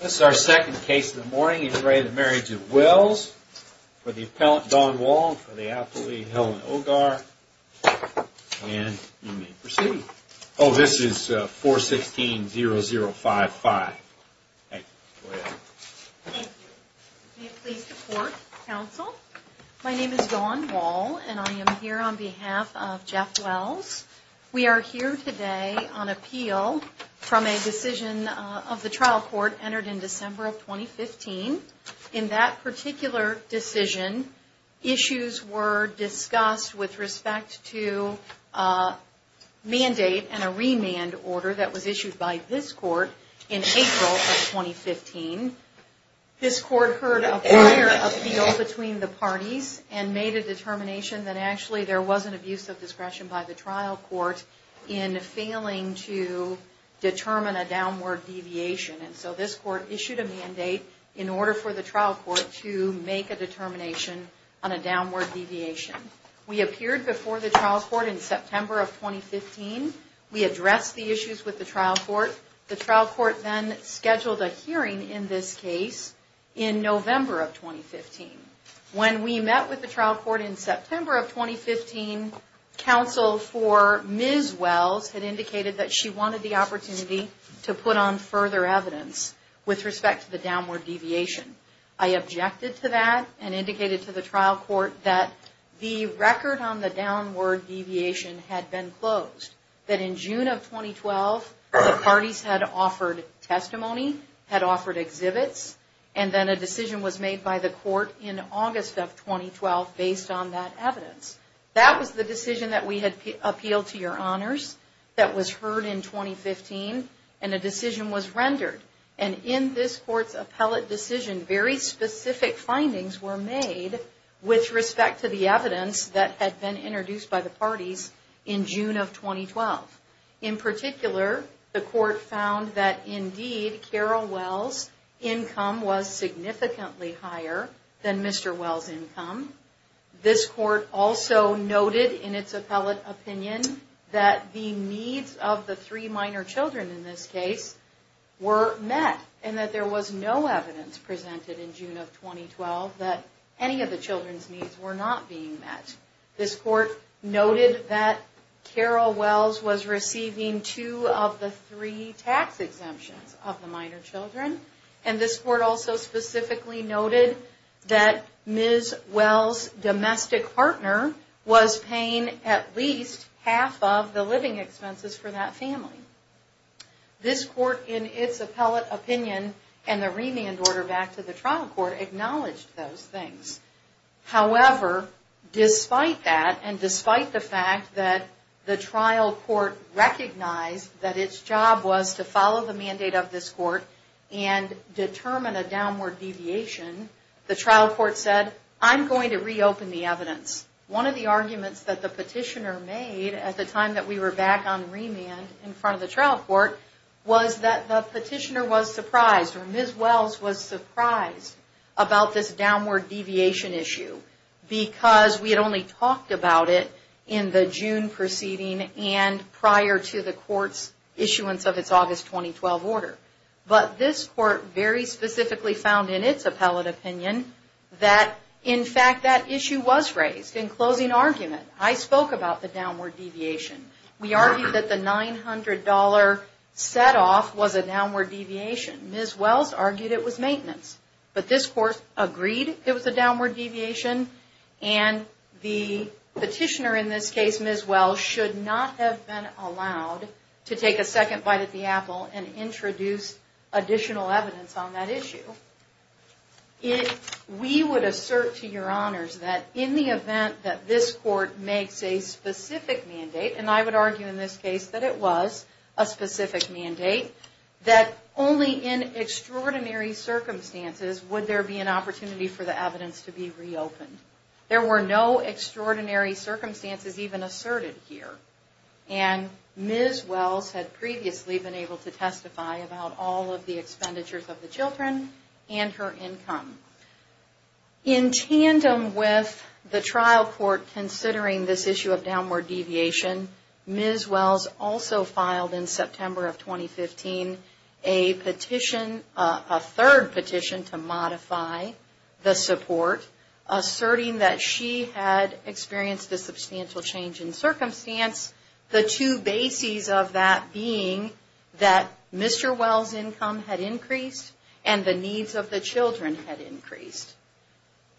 This is our second case of the morning in re the Marriage of Wells for the appellant Dawn Wall and for the appellate Helen Ogar. And you may proceed. Oh this is 416-0055. My name is Dawn Wall and I am here on behalf of Jeff Wells. We are here today on appeal from a decision of the trial court entered in December of 2015. In that particular decision, issues were discussed with respect to a mandate and a remand order that was issued by this court in April of 2015. This court heard a prior appeal between the parties and made a determination that actually there was an abuse of discretion by the trial court in failing to determine a downward deviation. And so this court issued a mandate in order for the trial court to make a determination on a downward deviation. We appeared before the trial court in September of 2015. We addressed the issues with the trial court. The trial court then scheduled a hearing in this case in November of 2015. When we met with the trial court in September of 2015, counsel for Ms. Wells had indicated that she wanted the opportunity to put on further evidence with respect to the downward deviation. I objected to that and indicated to the trial court that the record on the downward deviation had been closed. That in June of 2012, the parties had offered testimony, had offered exhibits, and then a decision was made by the court in August of 2012 based on that evidence. That was the decision that we had appealed to your honors that was heard in 2015 and a decision was rendered. And in this court's appellate decision, very specific findings were made with respect to the evidence that had been introduced by the parties in June of 2012. This court also noted in its appellate opinion that the needs of the three minor children in this case were met and that there was no evidence presented in June of 2012 that any of the children's needs were not being met. This court noted that Carol was paying for her children, and this court also specifically noted that Ms. Wells' domestic partner was paying at least half of the living expenses for that family. This court in its appellate opinion and the remand order back to the trial court acknowledged those things. However, despite that and despite the fact that the trial court recognized that its job was to follow the mandate of this court and determine a downward deviation, the trial court said, I'm going to reopen the evidence. One of the arguments that the petitioner made at the time that we were back on remand in front of the trial court was that the petitioner was surprised or Ms. Wells was surprised about this downward deviation issue because we had only talked about it in the June proceeding and prior to the court's issuance of its August 2012 order. But this court very specifically found in its appellate opinion that in fact that issue was raised. In closing argument, I spoke about the downward deviation. We argued that the $900 set off was a downward deviation. Ms. Wells argued it was maintenance. But this the petitioner in this case, Ms. Wells, should not have been allowed to take a second bite at the apple and introduce additional evidence on that issue. If we would assert to your honors that in the event that this court makes a specific mandate, and I would argue in this case that it was a specific mandate, that only in extraordinary circumstances would there be an opportunity for the evidence to be reopened. There were no extraordinary circumstances even asserted here. And Ms. Wells had previously been able to testify about all of the expenditures of the children and her income. In tandem with the trial court considering this issue of downward deviation, Ms. Wells also filed in September of 2015 a petition, a third petition to modify the support, asserting that she had experienced a substantial change in circumstance. The two bases of that being that Mr. Wells' income had increased and the needs of the children had increased.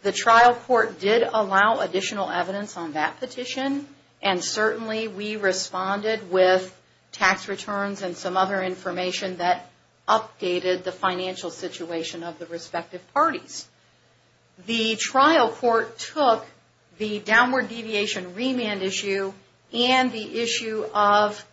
The trial court did allow additional evidence on that petition and certainly we responded with tax returns and some other information that updated the financial situation of the respective parties. The trial court took the downward deviation remand issue and the issue of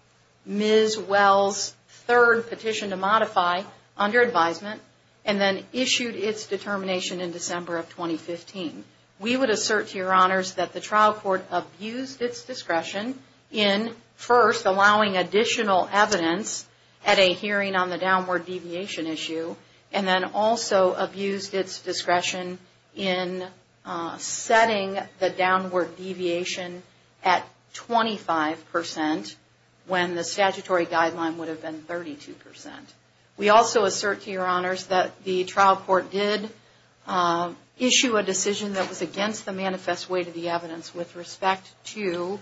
Ms. Wells' third petition to modify under advisement and then issued its determination in December of 2015. We would assert to your honors that the trial court abused its discretion in first allowing additional evidence at a hearing on the downward deviation issue and then also abused its discretion in setting the downward deviation at 25% when the statutory guideline would have been 32%. We also assert to your honors that the trial court did issue a decision that was against the manifest weight of the evidence with respect to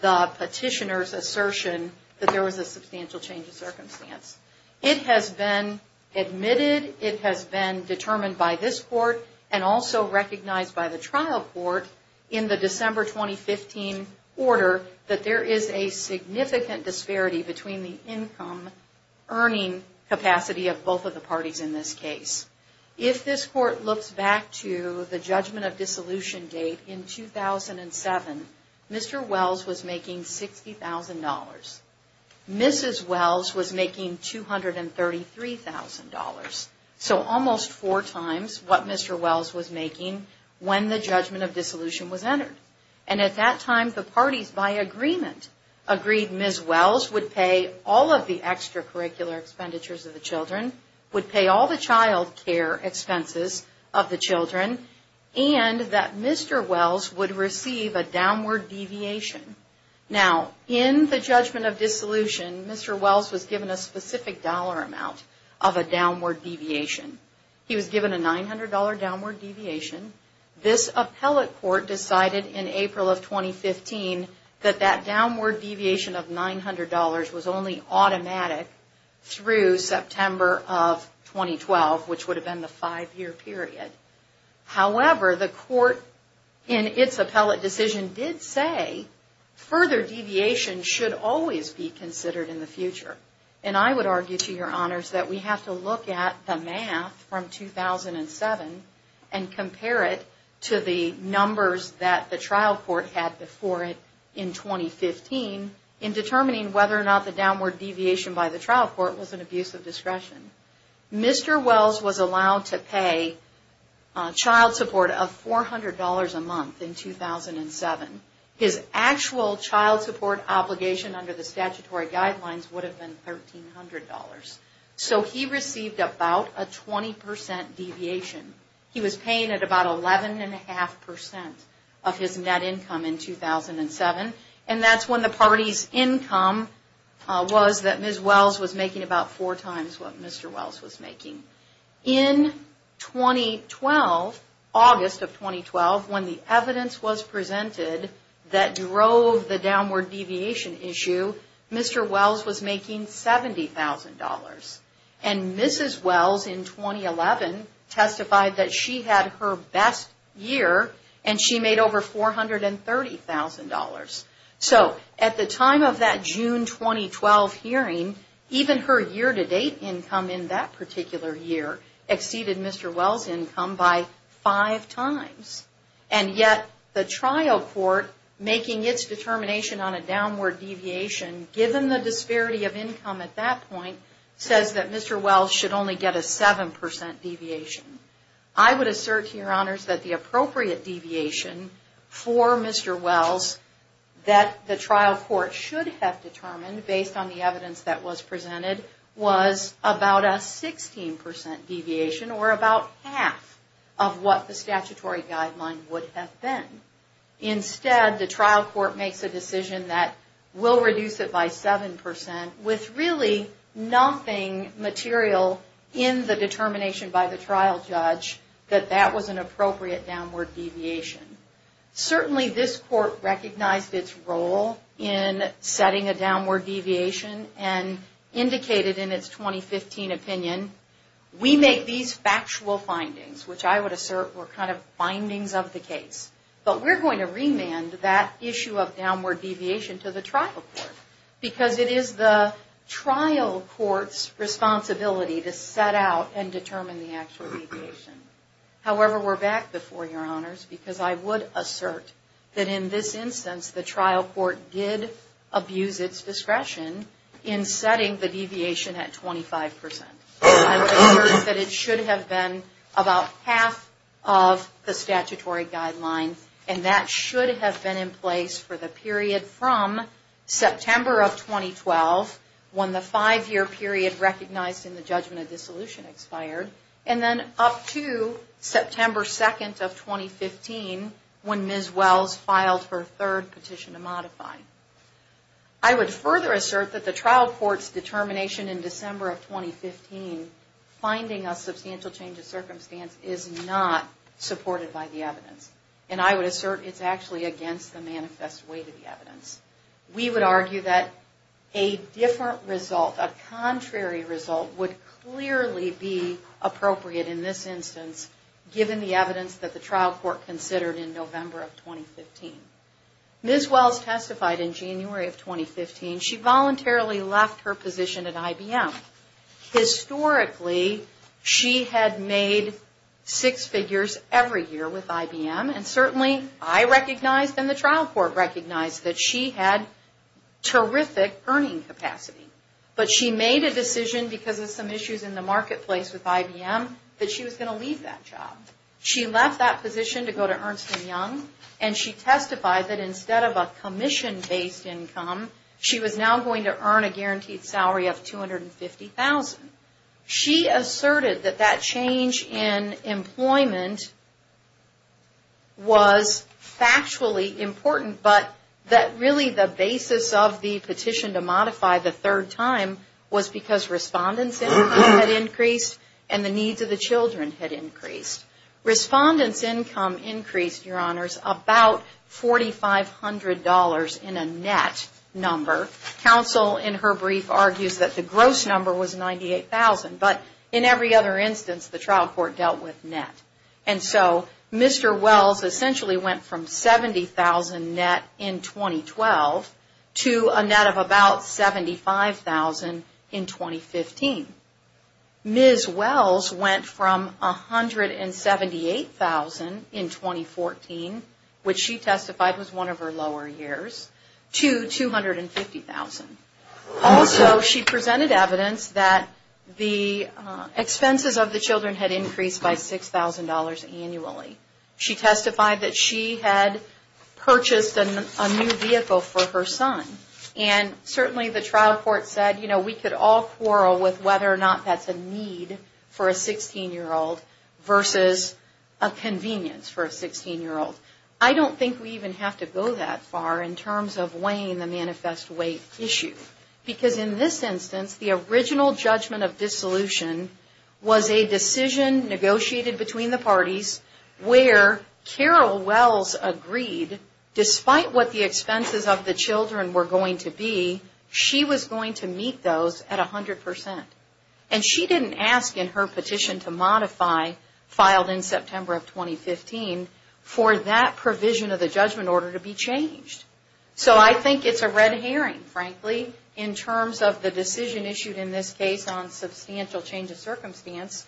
the petitioner's assertion that there was a substantial change in circumstance. It has been admitted, it has been determined by this court and also recognized by the trial court in the December 2015 order that there is a significant disparity between the income earning capacity of both of the parties in this case. If this court looks back to the judgment of dissolution date in 2007, Mr. Wells was making $233,000. So almost four times what Mr. Wells was making when the judgment of dissolution was entered. And at that time the parties by agreement agreed Ms. Wells would pay all of the extracurricular expenditures of the children, would pay all the child care expenses of the children and that Mr. Wells would receive a downward deviation. Now in the judgment of dissolution, Mr. Wells was given a specific dollar amount of a downward deviation. He was given a $900 downward deviation. This appellate court decided in April of 2015 that that downward deviation of $900 was only automatic through September of 2012, which would have been the five year period. However, the court in its appellate decision did say further deviation should always be considered in the future. And I would argue to your honors that we have to look at the math from 2007 and compare it to the numbers that the trial court had before it in 2015 in determining whether or not the downward deviation by the trial court was an abuse of discretion. Mr. Wells was allowed to pay child support of $400 a month in 2007. His actual child support obligation under the statutory guidelines would have been $1,300. So he received about a 20% deviation. He was paying at about 11.5% of his net income in 2007 and that's when the parties income was that Ms. Wells was making $70,000. When the evidence was presented that drove the downward deviation issue, Mr. Wells was making $70,000. And Ms. Wells in 2011 testified that she had her best year and she made over $430,000. So at the time of that June 2012 hearing, even her year to June 2012 hearing, Ms. Wells was making $430,000. And yet the trial court making its determination on a downward deviation given the disparity of income at that point says that Mr. Wells should only get a 7% deviation. I would assert to your honors that the appropriate deviation for Mr. Wells that the trial court should have determined based on the evidence that were about half of what the statutory guideline would have been. Instead the trial court makes a decision that will reduce it by 7% with really nothing material in the determination by the trial judge that that was an appropriate downward deviation. Certainly this court recognized its role in setting a downward deviation and indicated in its 2015 opinion, we make these factual findings, which I would assert were kind of findings of the case. But we're going to remand that issue of downward deviation to the trial court because it is the trial court's responsibility to set out and determine the actual deviation. However, we're back before your honors because I would assert that in this instance the trial court did have been about half of the statutory guideline and that should have been in place for the period from September of 2012 when the five year period recognized in the judgment of dissolution expired and then up to September 2nd of 2015 when Ms. Wells filed her third petition to modify. I would further assert that the trial court's determination in December of 2015 finding a substantial change of circumstance is not supported by the evidence. And I would assert it's actually against the manifest weight of the evidence. We would argue that a different result, a contrary result, would clearly be appropriate in this instance given the evidence that the trial court considered in November of 2015. Ms. Wells testified in that case. Historically, she had made six figures every year with IBM and certainly I recognized and the trial court recognized that she had terrific earning capacity. But she made a decision because of some issues in the marketplace with IBM that she was going to leave that job. She left that position to go to Ernst and Young and she testified that instead of a commission based income, she was now going to earn a guaranteed salary of $250,000. She asserted that that change in employment was factually important, but that really the basis of the petition to modify the third time was because respondent's income had increased and the needs of the children had increased. Respondent's income increased, Your Honors, about $4,500 in a net number. Counsel in her brief argues that that was the gross number was $98,000, but in every other instance the trial court dealt with net. And so Mr. Wells essentially went from $70,000 net in 2012 to a net of about $75,000 in 2015. Ms. Wells went from $178,000 in 2014, which she testified was one of her lower years, to $250,000. Also, she presented evidence that the expenses of the children had increased by $6,000 annually. She testified that she had purchased a new vehicle for her son and certainly the trial court said, you know, we could all quarrel with whether or not that's a need for a 16-year-old versus a convenience for a 16-year-old. I don't think we even have to go that far in terms of weighing the manifest weight issue, because in this instance the original judgment of dissolution was a decision negotiated between the parties where Carol Wells agreed, despite what the expenses of the children were going to be, she was going to meet those at 100%. And she didn't ask in her petition to modify, filed in September of 2015, for that provision of the judgment order to be changed. So I think it's a red herring, frankly, in terms of the decision issued in this case on substantial change of circumstance,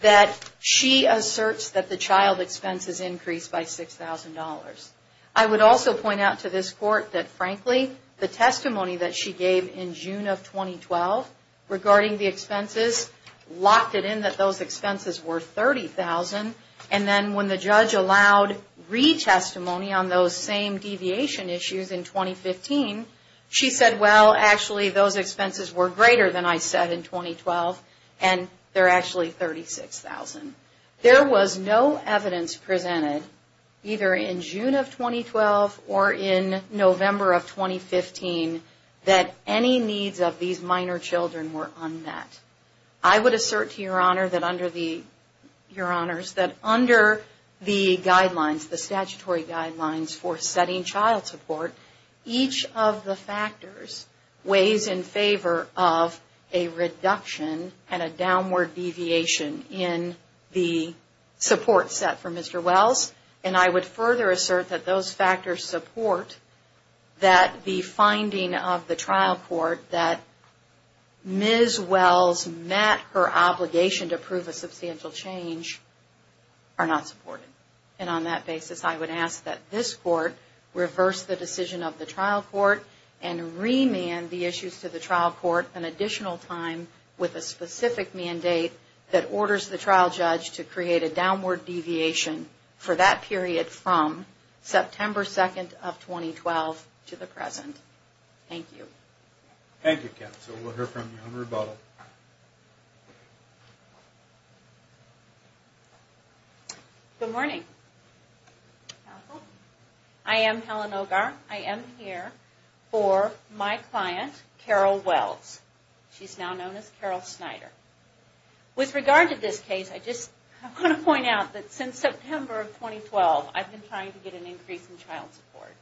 that she asserts that the child expenses increased by $6,000. I would also point out to this court that, frankly, the testimony that she gave in June of 2012 regarding the expenses locked it in that those expenses were $30,000. And then when the judge allowed retestimony on those same deviation issues in 2015, she said, well, actually those expenses were greater than I said in 2012, and they're actually $36,000. There was no evidence presented, either in June of 2012 or in November of 2015, that any needs of these minor children were unmet. I would assert to Your Honor that under the guidelines, the statutory guidelines for setting child support, each of the factors weighs in favor of a reduction and a downward deviation in the support set for Mr. Wells. And I would assert that Ms. Wells met her obligation to prove a substantial change are not supported. And on that basis, I would ask that this court reverse the decision of the trial court and remand the issues to the trial court an additional time with a specific mandate that orders the trial judge to create a downward deviation for that period from September 2nd of 2012 to the present. Thank you. Thank you, counsel. We'll hear from you on rebuttal. Good morning, counsel. I am Helen Ogar. I am here for my client, Carol Wells. She's now known as Carol Snyder. With regard to this case, I just want to point out that since September of 2012, I've been trying to get an increase in child support.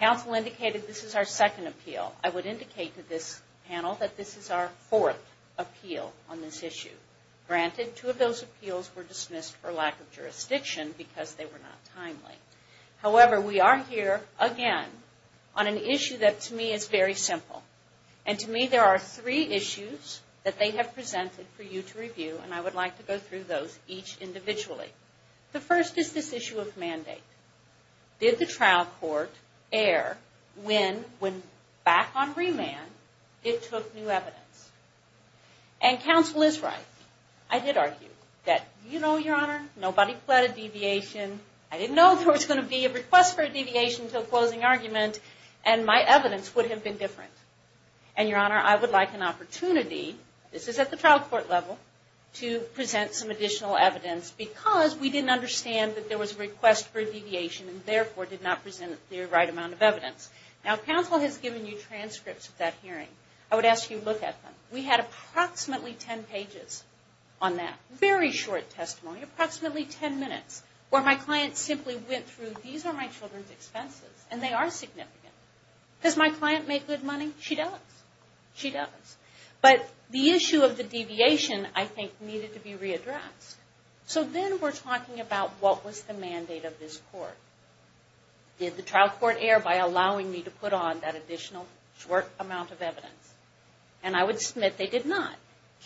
Counsel indicated this is our second appeal. I would indicate to this panel that this is our fourth appeal on this issue. Granted, two of those appeals were dismissed for lack of jurisdiction because they were not timely. However, we are here again on an issue that to me is very simple. And to me, there are three issues that they have presented for you to review, and I would like to go through those each individually. The first is this issue of mandate. Did the NNN win back on remand? It took new evidence. And counsel is right. I did argue that, you know, your honor, nobody pled a deviation. I didn't know there was going to be a request for a deviation until closing argument, and my evidence would have been different. And your honor, I would like an opportunity, this is at the trial court level, to present some additional evidence because we didn't understand that there was a request for a deviation and therefore did not present the right amount of evidence. Now, counsel has given you transcripts of that hearing. I would ask you to look at them. We had approximately ten pages on that. Very short testimony. Approximately ten minutes where my client simply went through, these are my children's expenses, and they are significant. Does my client make good money? She does. She does. But the issue of the deviation, I think, needed to be readdressed. So then we're talking about what was the mandate of this court. Did the trial court err by allowing me to put on that additional short amount of evidence? And I would submit they did not.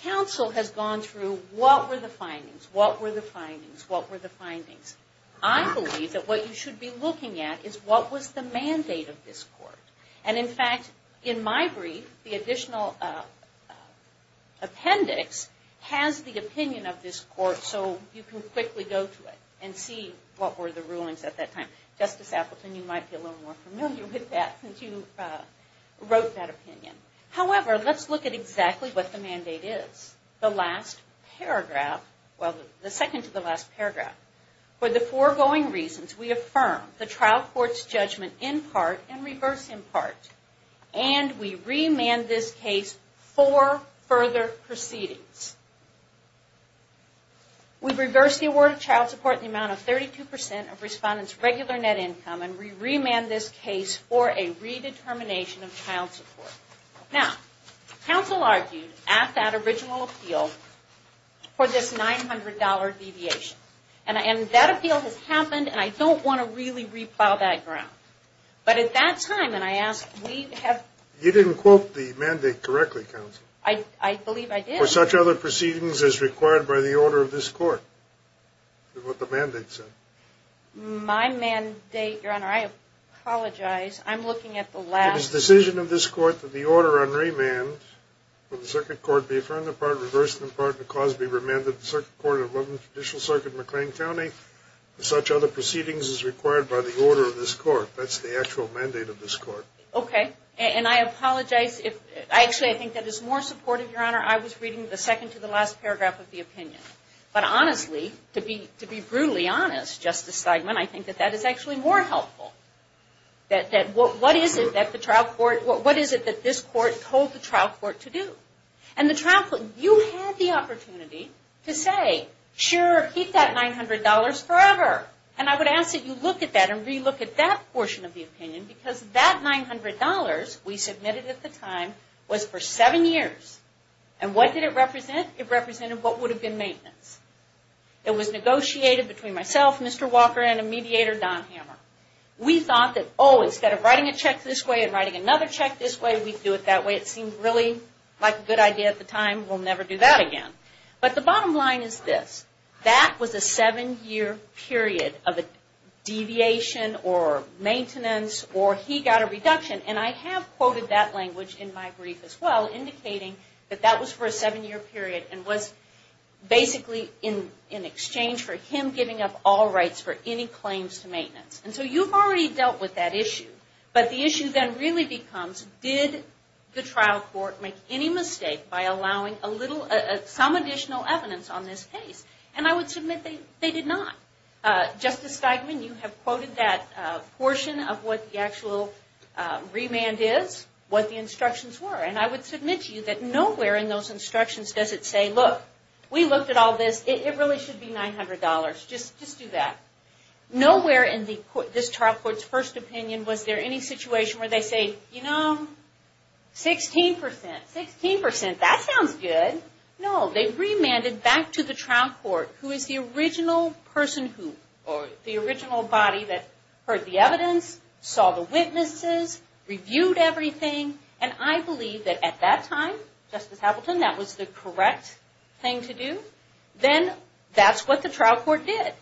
Counsel has gone through what were the findings, what were the findings, what were the findings. I believe that what you should be looking at is what was the mandate of this court. And in fact, in my brief, the additional appendix has the opinion of this court so you can quickly go to it and see what were the rulings at that time. Justice Appleton, you might be a little more familiar with that since you wrote that opinion. However, let's look at exactly what the mandate is. The last paragraph, well, the second to the last paragraph. For the foregoing reasons, we affirm the trial court's judgment in part and reverse in part. And we remand this case for further proceedings. We've reversed the award of the trial court in the amount of 32 percent of respondents' regular net income and we remand this case for a redetermination of trial support. Now, counsel argued at that original appeal for this $900 deviation. And that appeal has happened and I don't want to really re-plow that ground. But at that time, and I ask, we have... You didn't quote the mandate correctly, counsel. I believe I did. For such other proceedings as required by the order of this court, is what the mandate said. My mandate, Your Honor, I apologize. I'm looking at the last... It is the decision of this court that the order on remand for the circuit court be affirmed in part and reversed in part and the cause be remanded to the circuit court of Loveland Judicial Circuit, McLean County for such other proceedings as required by the order of this court. That's the actual mandate of this court. Okay. And I apologize if... Actually, I think that is more supportive, Your Honor. I was reading the second to the last paragraph of the opinion. But honestly, to be brutally honest, Justice Steigman, I think that that is actually more helpful. That what is it that the trial court... What is it that this court told the trial court to do? And the trial court... You had the opportunity to say, sure, keep that $900 forever. And I would ask that you look at that and re-look at that 7 years. And what did it represent? It represented what would have been maintenance. It was negotiated between myself, Mr. Walker, and a mediator, Don Hammer. We thought that, oh, instead of writing a check this way and writing another check this way, we'd do it that way. It seemed really like a good idea at the time. We'll never do that again. But the bottom line is this. That was a 7-year period of a deviation or maintenance or he got a reduction. And I have quoted that language in my brief as well, indicating that that was for a 7-year period and was basically in exchange for him giving up all rights for any claims to maintenance. And so you've already dealt with that issue. But the issue then really becomes did the trial court make any mistake by allowing some additional evidence on this case? And I would submit they did not. Justice Steigman, you have quoted that portion of what the actual remand is, what the instructions were. And I would submit to you that nowhere in those instructions does it say, look, we looked at all this. It really should be $900. Just do that. Nowhere in this trial court's first opinion was there any situation where they say, you know, 16%. 16%? That sounds good. No. They remanded back to the trial court who is the original person who, or the original body that heard the evidence, saw the witnesses, reviewed everything. And I believe that at that time, Justice Appleton, that was the correct thing to do. Then that's what the trial court did.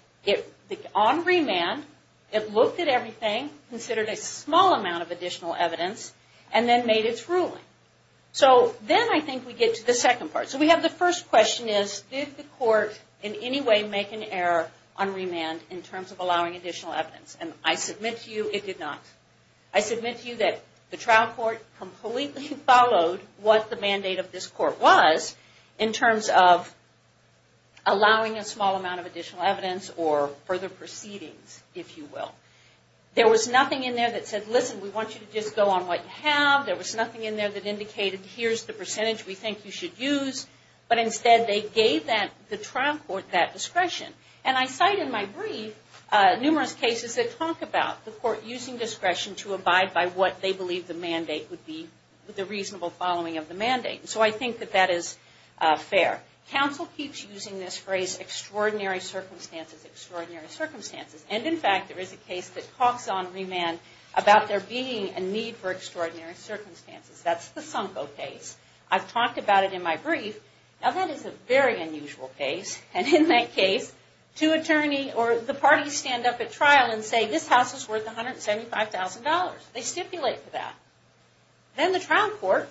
On remand, it looked at everything, considered a small amount of additional evidence, and then made its ruling. So then I think we get to the second part. So we have the first question is did the court in any way make an error on remand in terms of allowing additional evidence? And I submit to you it did not. I submit to you that the trial court completely followed what the mandate of this court was in terms of allowing a small amount of additional evidence or further proceedings, if you will. There was nothing in there that said, listen, we want you to just go on what you have. There was nothing in there that indicated here's the percentage we think you should use. But instead, they gave the trial court that discretion. And I cite in my brief numerous cases that talk about the court using discretion to abide by what they believe the mandate would be, the reasonable following of the mandate. So I think that that is fair. Counsel keeps using this phrase extraordinary circumstances, extraordinary circumstances. And in fact, there is a case that talks on remand about there being a need for extraordinary circumstances. And in my brief, now that is a very unusual case. And in that case, two attorneys or the parties stand up at trial and say this house is worth $175,000. They stipulate for that. Then the trial court,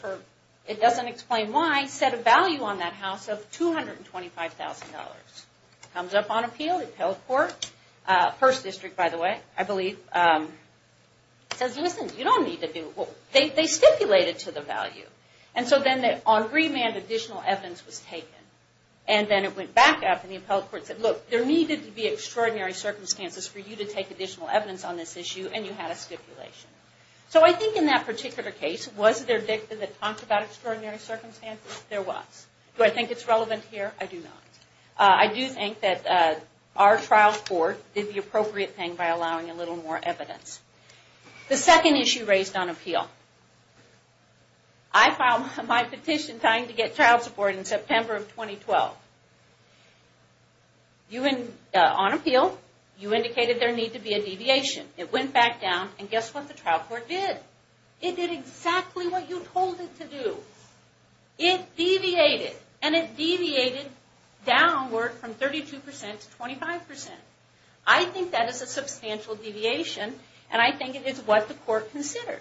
it doesn't explain why, set a value on that house of $225,000. Comes up on appeal, the appellate court, first district, by the way, I believe, says listen, you don't need to do it. They stipulate it to the value. And so then on remand, additional evidence was taken. And then it went back up and the appellate court said look, there needed to be extraordinary circumstances for you to take additional evidence on this issue, and you had a stipulation. So I think in that particular case, was there dicta that talked about extraordinary circumstances? There was. Do I think it's relevant here? I do not. I do think that our trial court did the appropriate thing by allowing a little more evidence. The second issue raised on appeal. I filed my petition trying to get trial support in September of 2012. On appeal, you indicated there needed to be a deviation. It went back down, and guess what the trial court did? It did exactly what you told it to do. It deviated. And it deviated downward from 32% to 25%. I think that is a substantial deviation, and I think it is what the court considered.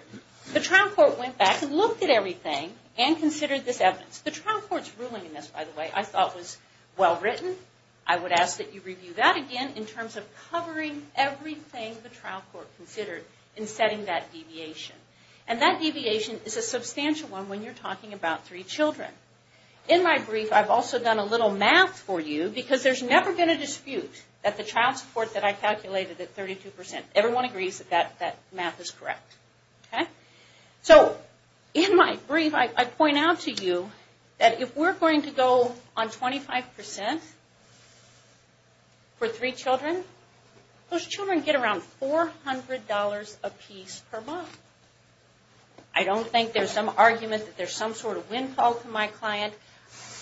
The trial court went back and looked at everything and considered this evidence. The trial court's ruling in this, by the way, I thought was well-written. I would ask that you review that again in terms of covering everything the trial court considered in setting that deviation. And that deviation is a substantial one when you're talking about three children. In my brief, I've also done a little math for you because there's never been a dispute that the trial support that I calculated at 32%. Everyone agrees that that math is correct. So in my brief, I point out to you that if we're going to go on 25% for three children, those children get around $400 a piece per month. I don't think there's some argument that there's some sort of windfall to my client.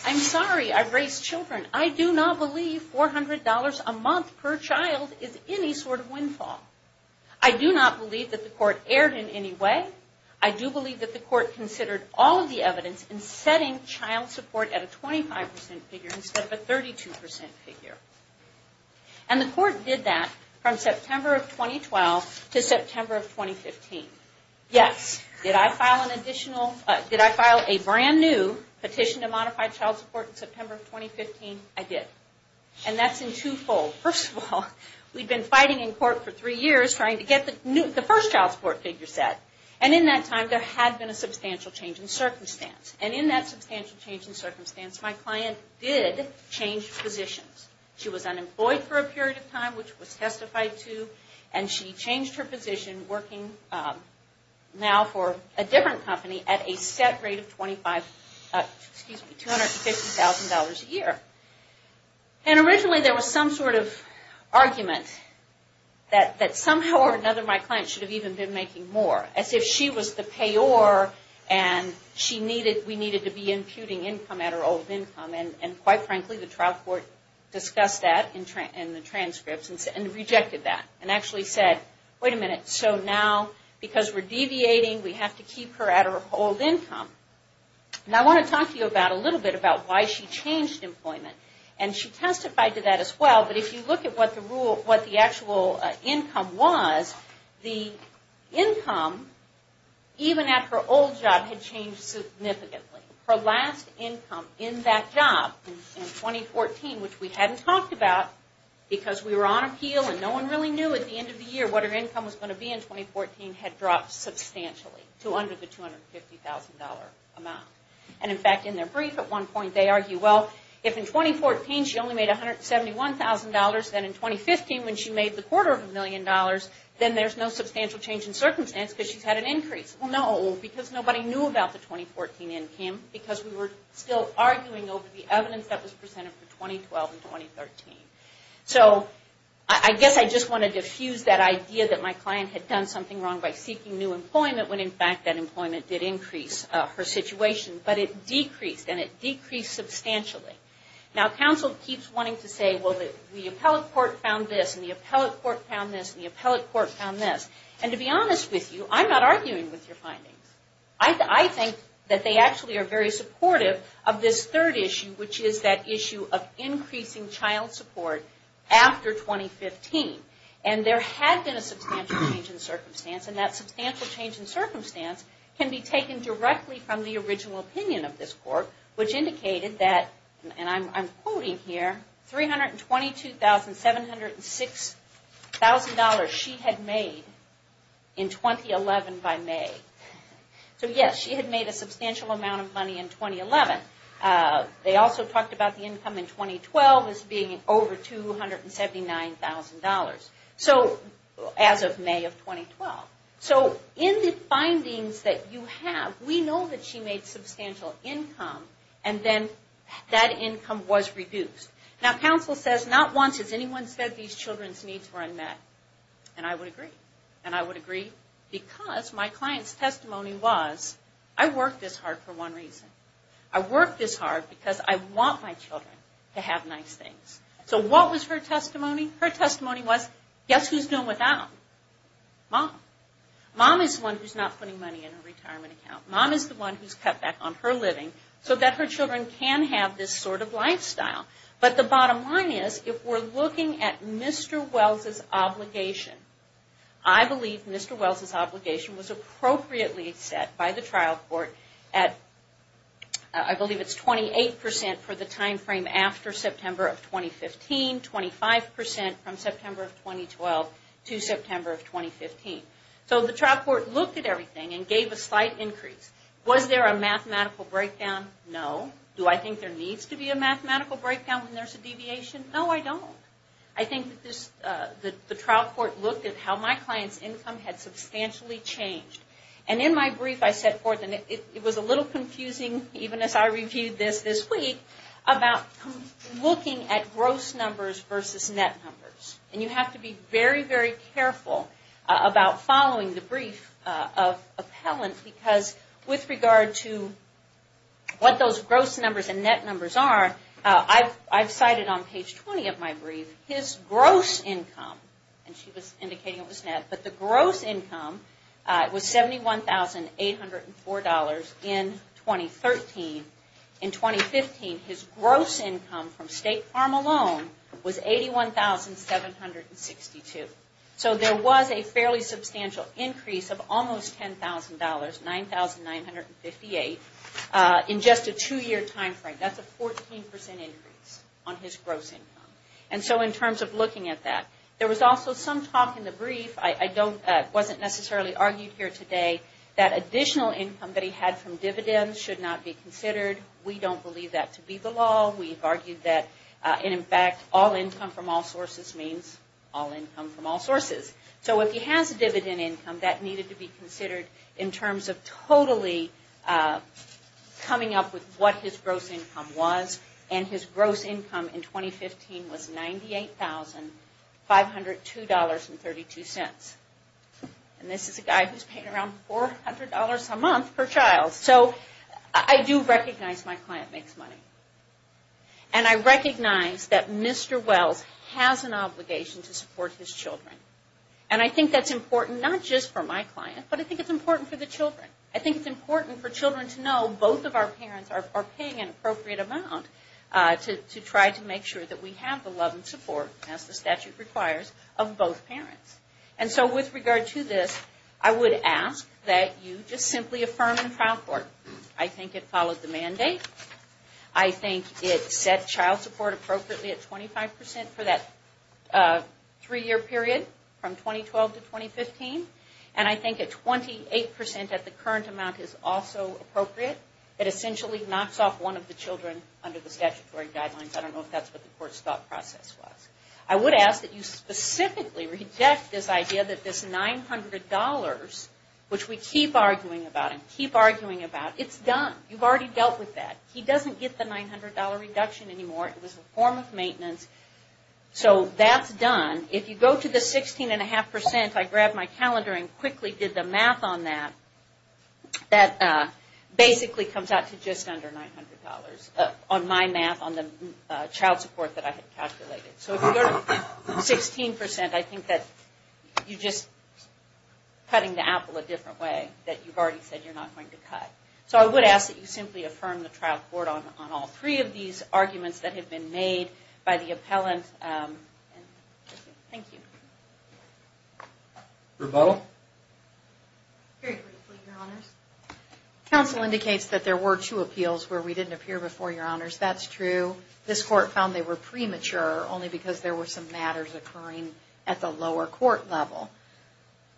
I'm sorry, I've raised children. I do not believe $400 a month per child is any sort of windfall. I do not believe that the court erred in any way. I do believe that the court considered all of the evidence in setting child support at a 25% figure instead of a 32% figure. And the court did that from September of 2012 to September of 2015. Yes, did I file an additional, did I file a brand new petition to modify child support in September of 2015? I did. And that's in two-fold. First of all, we'd been fighting in court for three years trying to get the first child support figure set. And in that time, there had been a substantial change in circumstance. And in that substantial change in circumstance, my client did change positions. She was unemployed for a period of time, which was testified to, and she changed her position working now for a different company at a set rate of $250,000 a year. And originally there was some sort of argument that somehow or another my client should have even been making more, as if she was the payor and we needed to be imputing income at her old income. And quite frankly, the trial court discussed that in the transcripts and rejected that and actually said, wait a minute, so now because we're deviating, we have to keep her at her old income. And I want to talk to you about a little bit about why she changed employment. And she testified to that as well. But if you look at what the actual income was, the income even at her old job had changed significantly. Her last income in that job in 2014, which we hadn't talked about, because we were on appeal and no one really knew at the end of the year what her income was going to be in 2014, had dropped substantially to under the $250,000 amount. And in fact, in their brief at one point, they argue, well, if in 2014 she only made $171,000, then in 2015 when she made the quarter of a million dollars, then there's no substantial change in circumstance because she's had an increase. Well, no, because nobody knew about the 2014 income, because we were still arguing over the evidence that was presented for 2012 and 2013. So I guess I just want to diffuse that idea that my client had done something wrong by seeking new employment, when in fact that employment did increase her situation. But it decreased, and it decreased substantially. Now, counsel keeps wanting to say, well, the appellate court found this, and the appellate court found this, and the appellate court found this. And to be honest with you, I'm not arguing with your findings. I think that they actually are very supportive of this third issue, which is that issue of increasing child support after 2015. And there had been a substantial change in circumstance, and that substantial change in circumstance can be taken directly from the original opinion of this court, which indicated that, and I'm quoting here, $322,706 she had made in 2011 by May. So yes, she had made a substantial amount of money in 2011. They also talked about the income in 2012 as being over $279,000. So, as of May of 2012. So in the findings that you have, we know that she made substantial income, and then that income was reduced. Now, counsel says, not once has anyone said these children's needs were unmet. And I would agree, because my client's testimony was, I work this hard for one reason. I work this hard because I want my children to have nice things. So what was her testimony? Her testimony was, guess who's doing without? Mom. Mom is the one who's not putting money in her retirement account. Mom is the one who's cut back on her living so that her children can have this sort of lifestyle. But the bottom line is, if we're looking at Mr. Wells' obligation, I believe Mr. Wells' obligation was appropriately set by the trial court at, I believe it's 28 percent for the time frame after September of 2015, 25 percent from September of 2012 to September of 2015. So the trial court looked at everything and gave a slight increase. Was there a mathematical breakdown? No. Do I think there needs to be a mathematical breakdown when there's a deviation? No, I don't. I think that the trial court looked at how my client's income had substantially changed. And in my brief I said forth, and it was a little confusing even as I reviewed this this week, about looking at gross numbers versus net numbers. And you have to be very, very careful about following the brief of appellant because with regard to what those gross numbers and net numbers are, I've cited on page 20 of my brief his gross income, and she was indicating it was net, but the gross income was $71,804 in 2013. In 2015 his gross income from state farm alone was $81,762. So there was a fairly substantial increase of almost $10,000, $9,958, in just a two-year time frame. That's a 14 percent increase on his gross income. And so in terms of looking at that, there was also some talk in the brief, I wasn't necessarily argued here today, that additional income that he had from dividends should not be considered. We don't believe that to be the law. We've argued that, and in fact, all income from all sources means all income from all sources. So if he has a dividend income, that needed to be considered in terms of totally coming up with what his gross income was, and his gross income in 2015 was $98,502.32. And this is a guy who's paying around $400 a month per child. So I do recognize my client makes a lot of money with his children. And I think that's important not just for my client, but I think it's important for the children. I think it's important for children to know both of our parents are paying an appropriate amount to try to make sure that we have the love and support, as the statute requires, of both parents. And so with regard to this, I would ask that you just simply affirm in trial court. I think it follows the mandate. I think it set child support appropriately at 25% for that three-year period from 2012 to 2015. And I think at 28% at the current amount is also appropriate. It essentially knocks off one of the children under the statutory guidelines. I don't know if that's what the court's thought process was. I would ask that you specifically reject this idea that this $900, which we keep arguing about and keep arguing about, it's done. You've already dealt with that. He doesn't get the $900 reduction anymore. It was a form of maintenance. So that's done. If you go to the 16.5%, I grabbed my calendar and quickly did the math on that, that basically comes out to just under $900 on my math, on the child support that I had calculated. So if you go to 16%, I think that you're just cutting the apple a different way, that you've already said you're not going to cut. So I would ask that you simply affirm the trial court on all three of these arguments that have been made by the appellant. Thank you. Rebuttal. Very briefly, Your Honors. Counsel indicates that there were two appeals where we didn't appear before, Your Honors. That's true. This court found they were premature only because there were some matters occurring at the lower court level.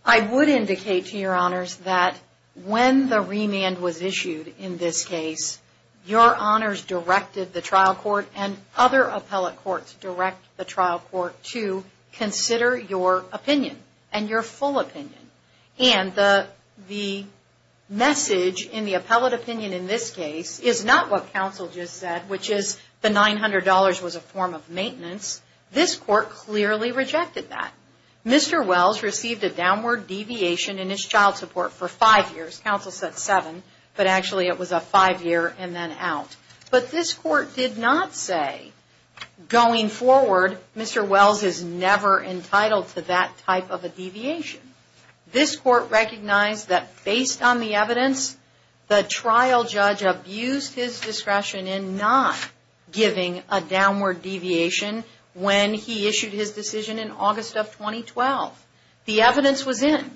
I would indicate to Your Honors that when the remand was issued in this case, Your Honors directed the trial court and other appellate courts direct the trial court to consider your opinion and your full opinion. And the message in the appellate opinion in this case is not what counsel just said, which is the $900 was a form of maintenance. This court clearly rejected that. Mr. Wells received a downward deviation in his child support for five years. Counsel said seven, but actually it was a five year and then out. But this court did not say, going forward, Mr. Wells is never entitled to that type of a deviation. This court recognized that based on the evidence, the trial judge abused his discretion in not giving a downward deviation when he issued his decision in August of 2012. The evidence was in.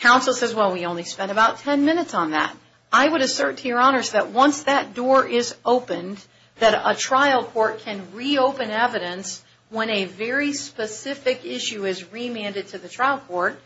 Counsel says, well, we only spent about ten minutes on that. I would assert to Your Honors that once that door is opened, that a trial court can reopen evidence when a very specific issue is remanded to the trial court,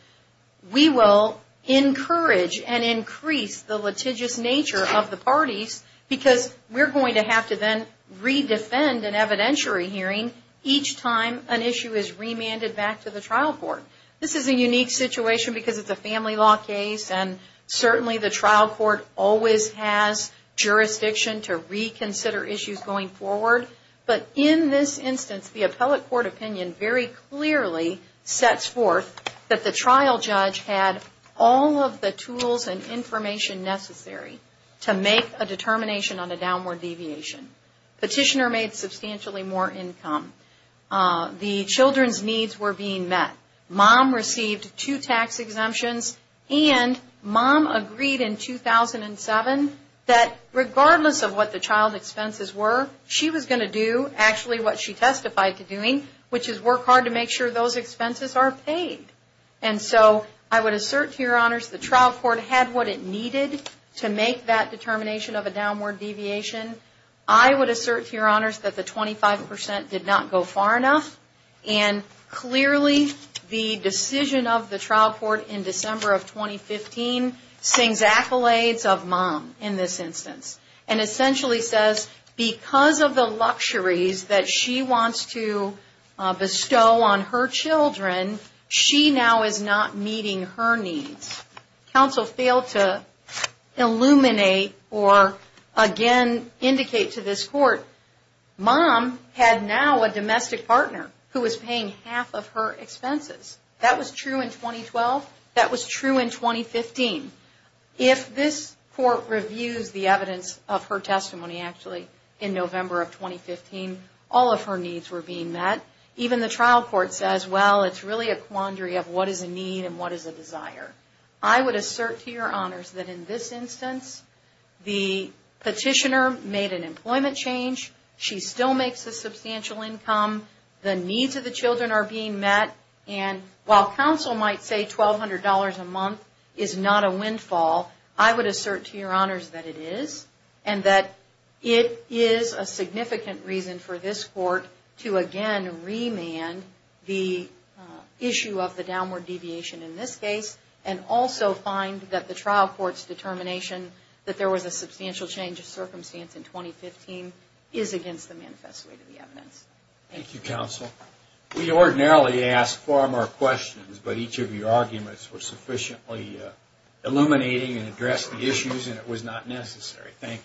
we will encourage and increase the litigious nature of the parties because we are going to have to then re-defend an evidentiary hearing each time an issue is remanded back to the trial court. This is a unique situation because it is a family law case and certainly the trial court always has jurisdiction to reconsider issues going forward. But in this case, the trial judge had all of the tools and information necessary to make a determination on a downward deviation. Petitioner made substantially more income. The children's needs were being met. Mom received two tax exemptions and Mom agreed in 2007 that regardless of what the child expenses were, she was going to do actually what she testified to doing, which is work hard to make sure those expenses are paid. And so, I would assert to Your Honors the trial court had what it needed to make that determination of a downward deviation. I would assert to Your Honors that the 25% did not go far enough and clearly the decision of the trial court in December of 2015 sings accolades of Mom in this instance and essentially says because of the luxuries that she wants to bestow on her children, she now is not meeting her needs. Counsel failed to illuminate or again indicate to this court Mom had now a domestic partner who was paying half of her expenses. That was true in 2012. That this court reviews the evidence of her testimony actually in November of 2015, all of her needs were being met. Even the trial court says, well, it's really a quandary of what is a need and what is a desire. I would assert to Your Honors that in this instance, the petitioner made an employment change. She still makes a substantial income. The needs of the children are being met and while counsel might say $1,200 a month is not a windfall, I would assert to Your Honors that it is and that it is a significant reason for this court to again remand the issue of the downward deviation in this case and also find that the trial court's determination that there was a substantial change of circumstance in 2015 is against the manifest way to the evidence. Thank you, Counsel. We ordinarily ask far more questions, but each of your arguments was sufficiently illuminating and addressed the issues and it was not necessary. Thank you.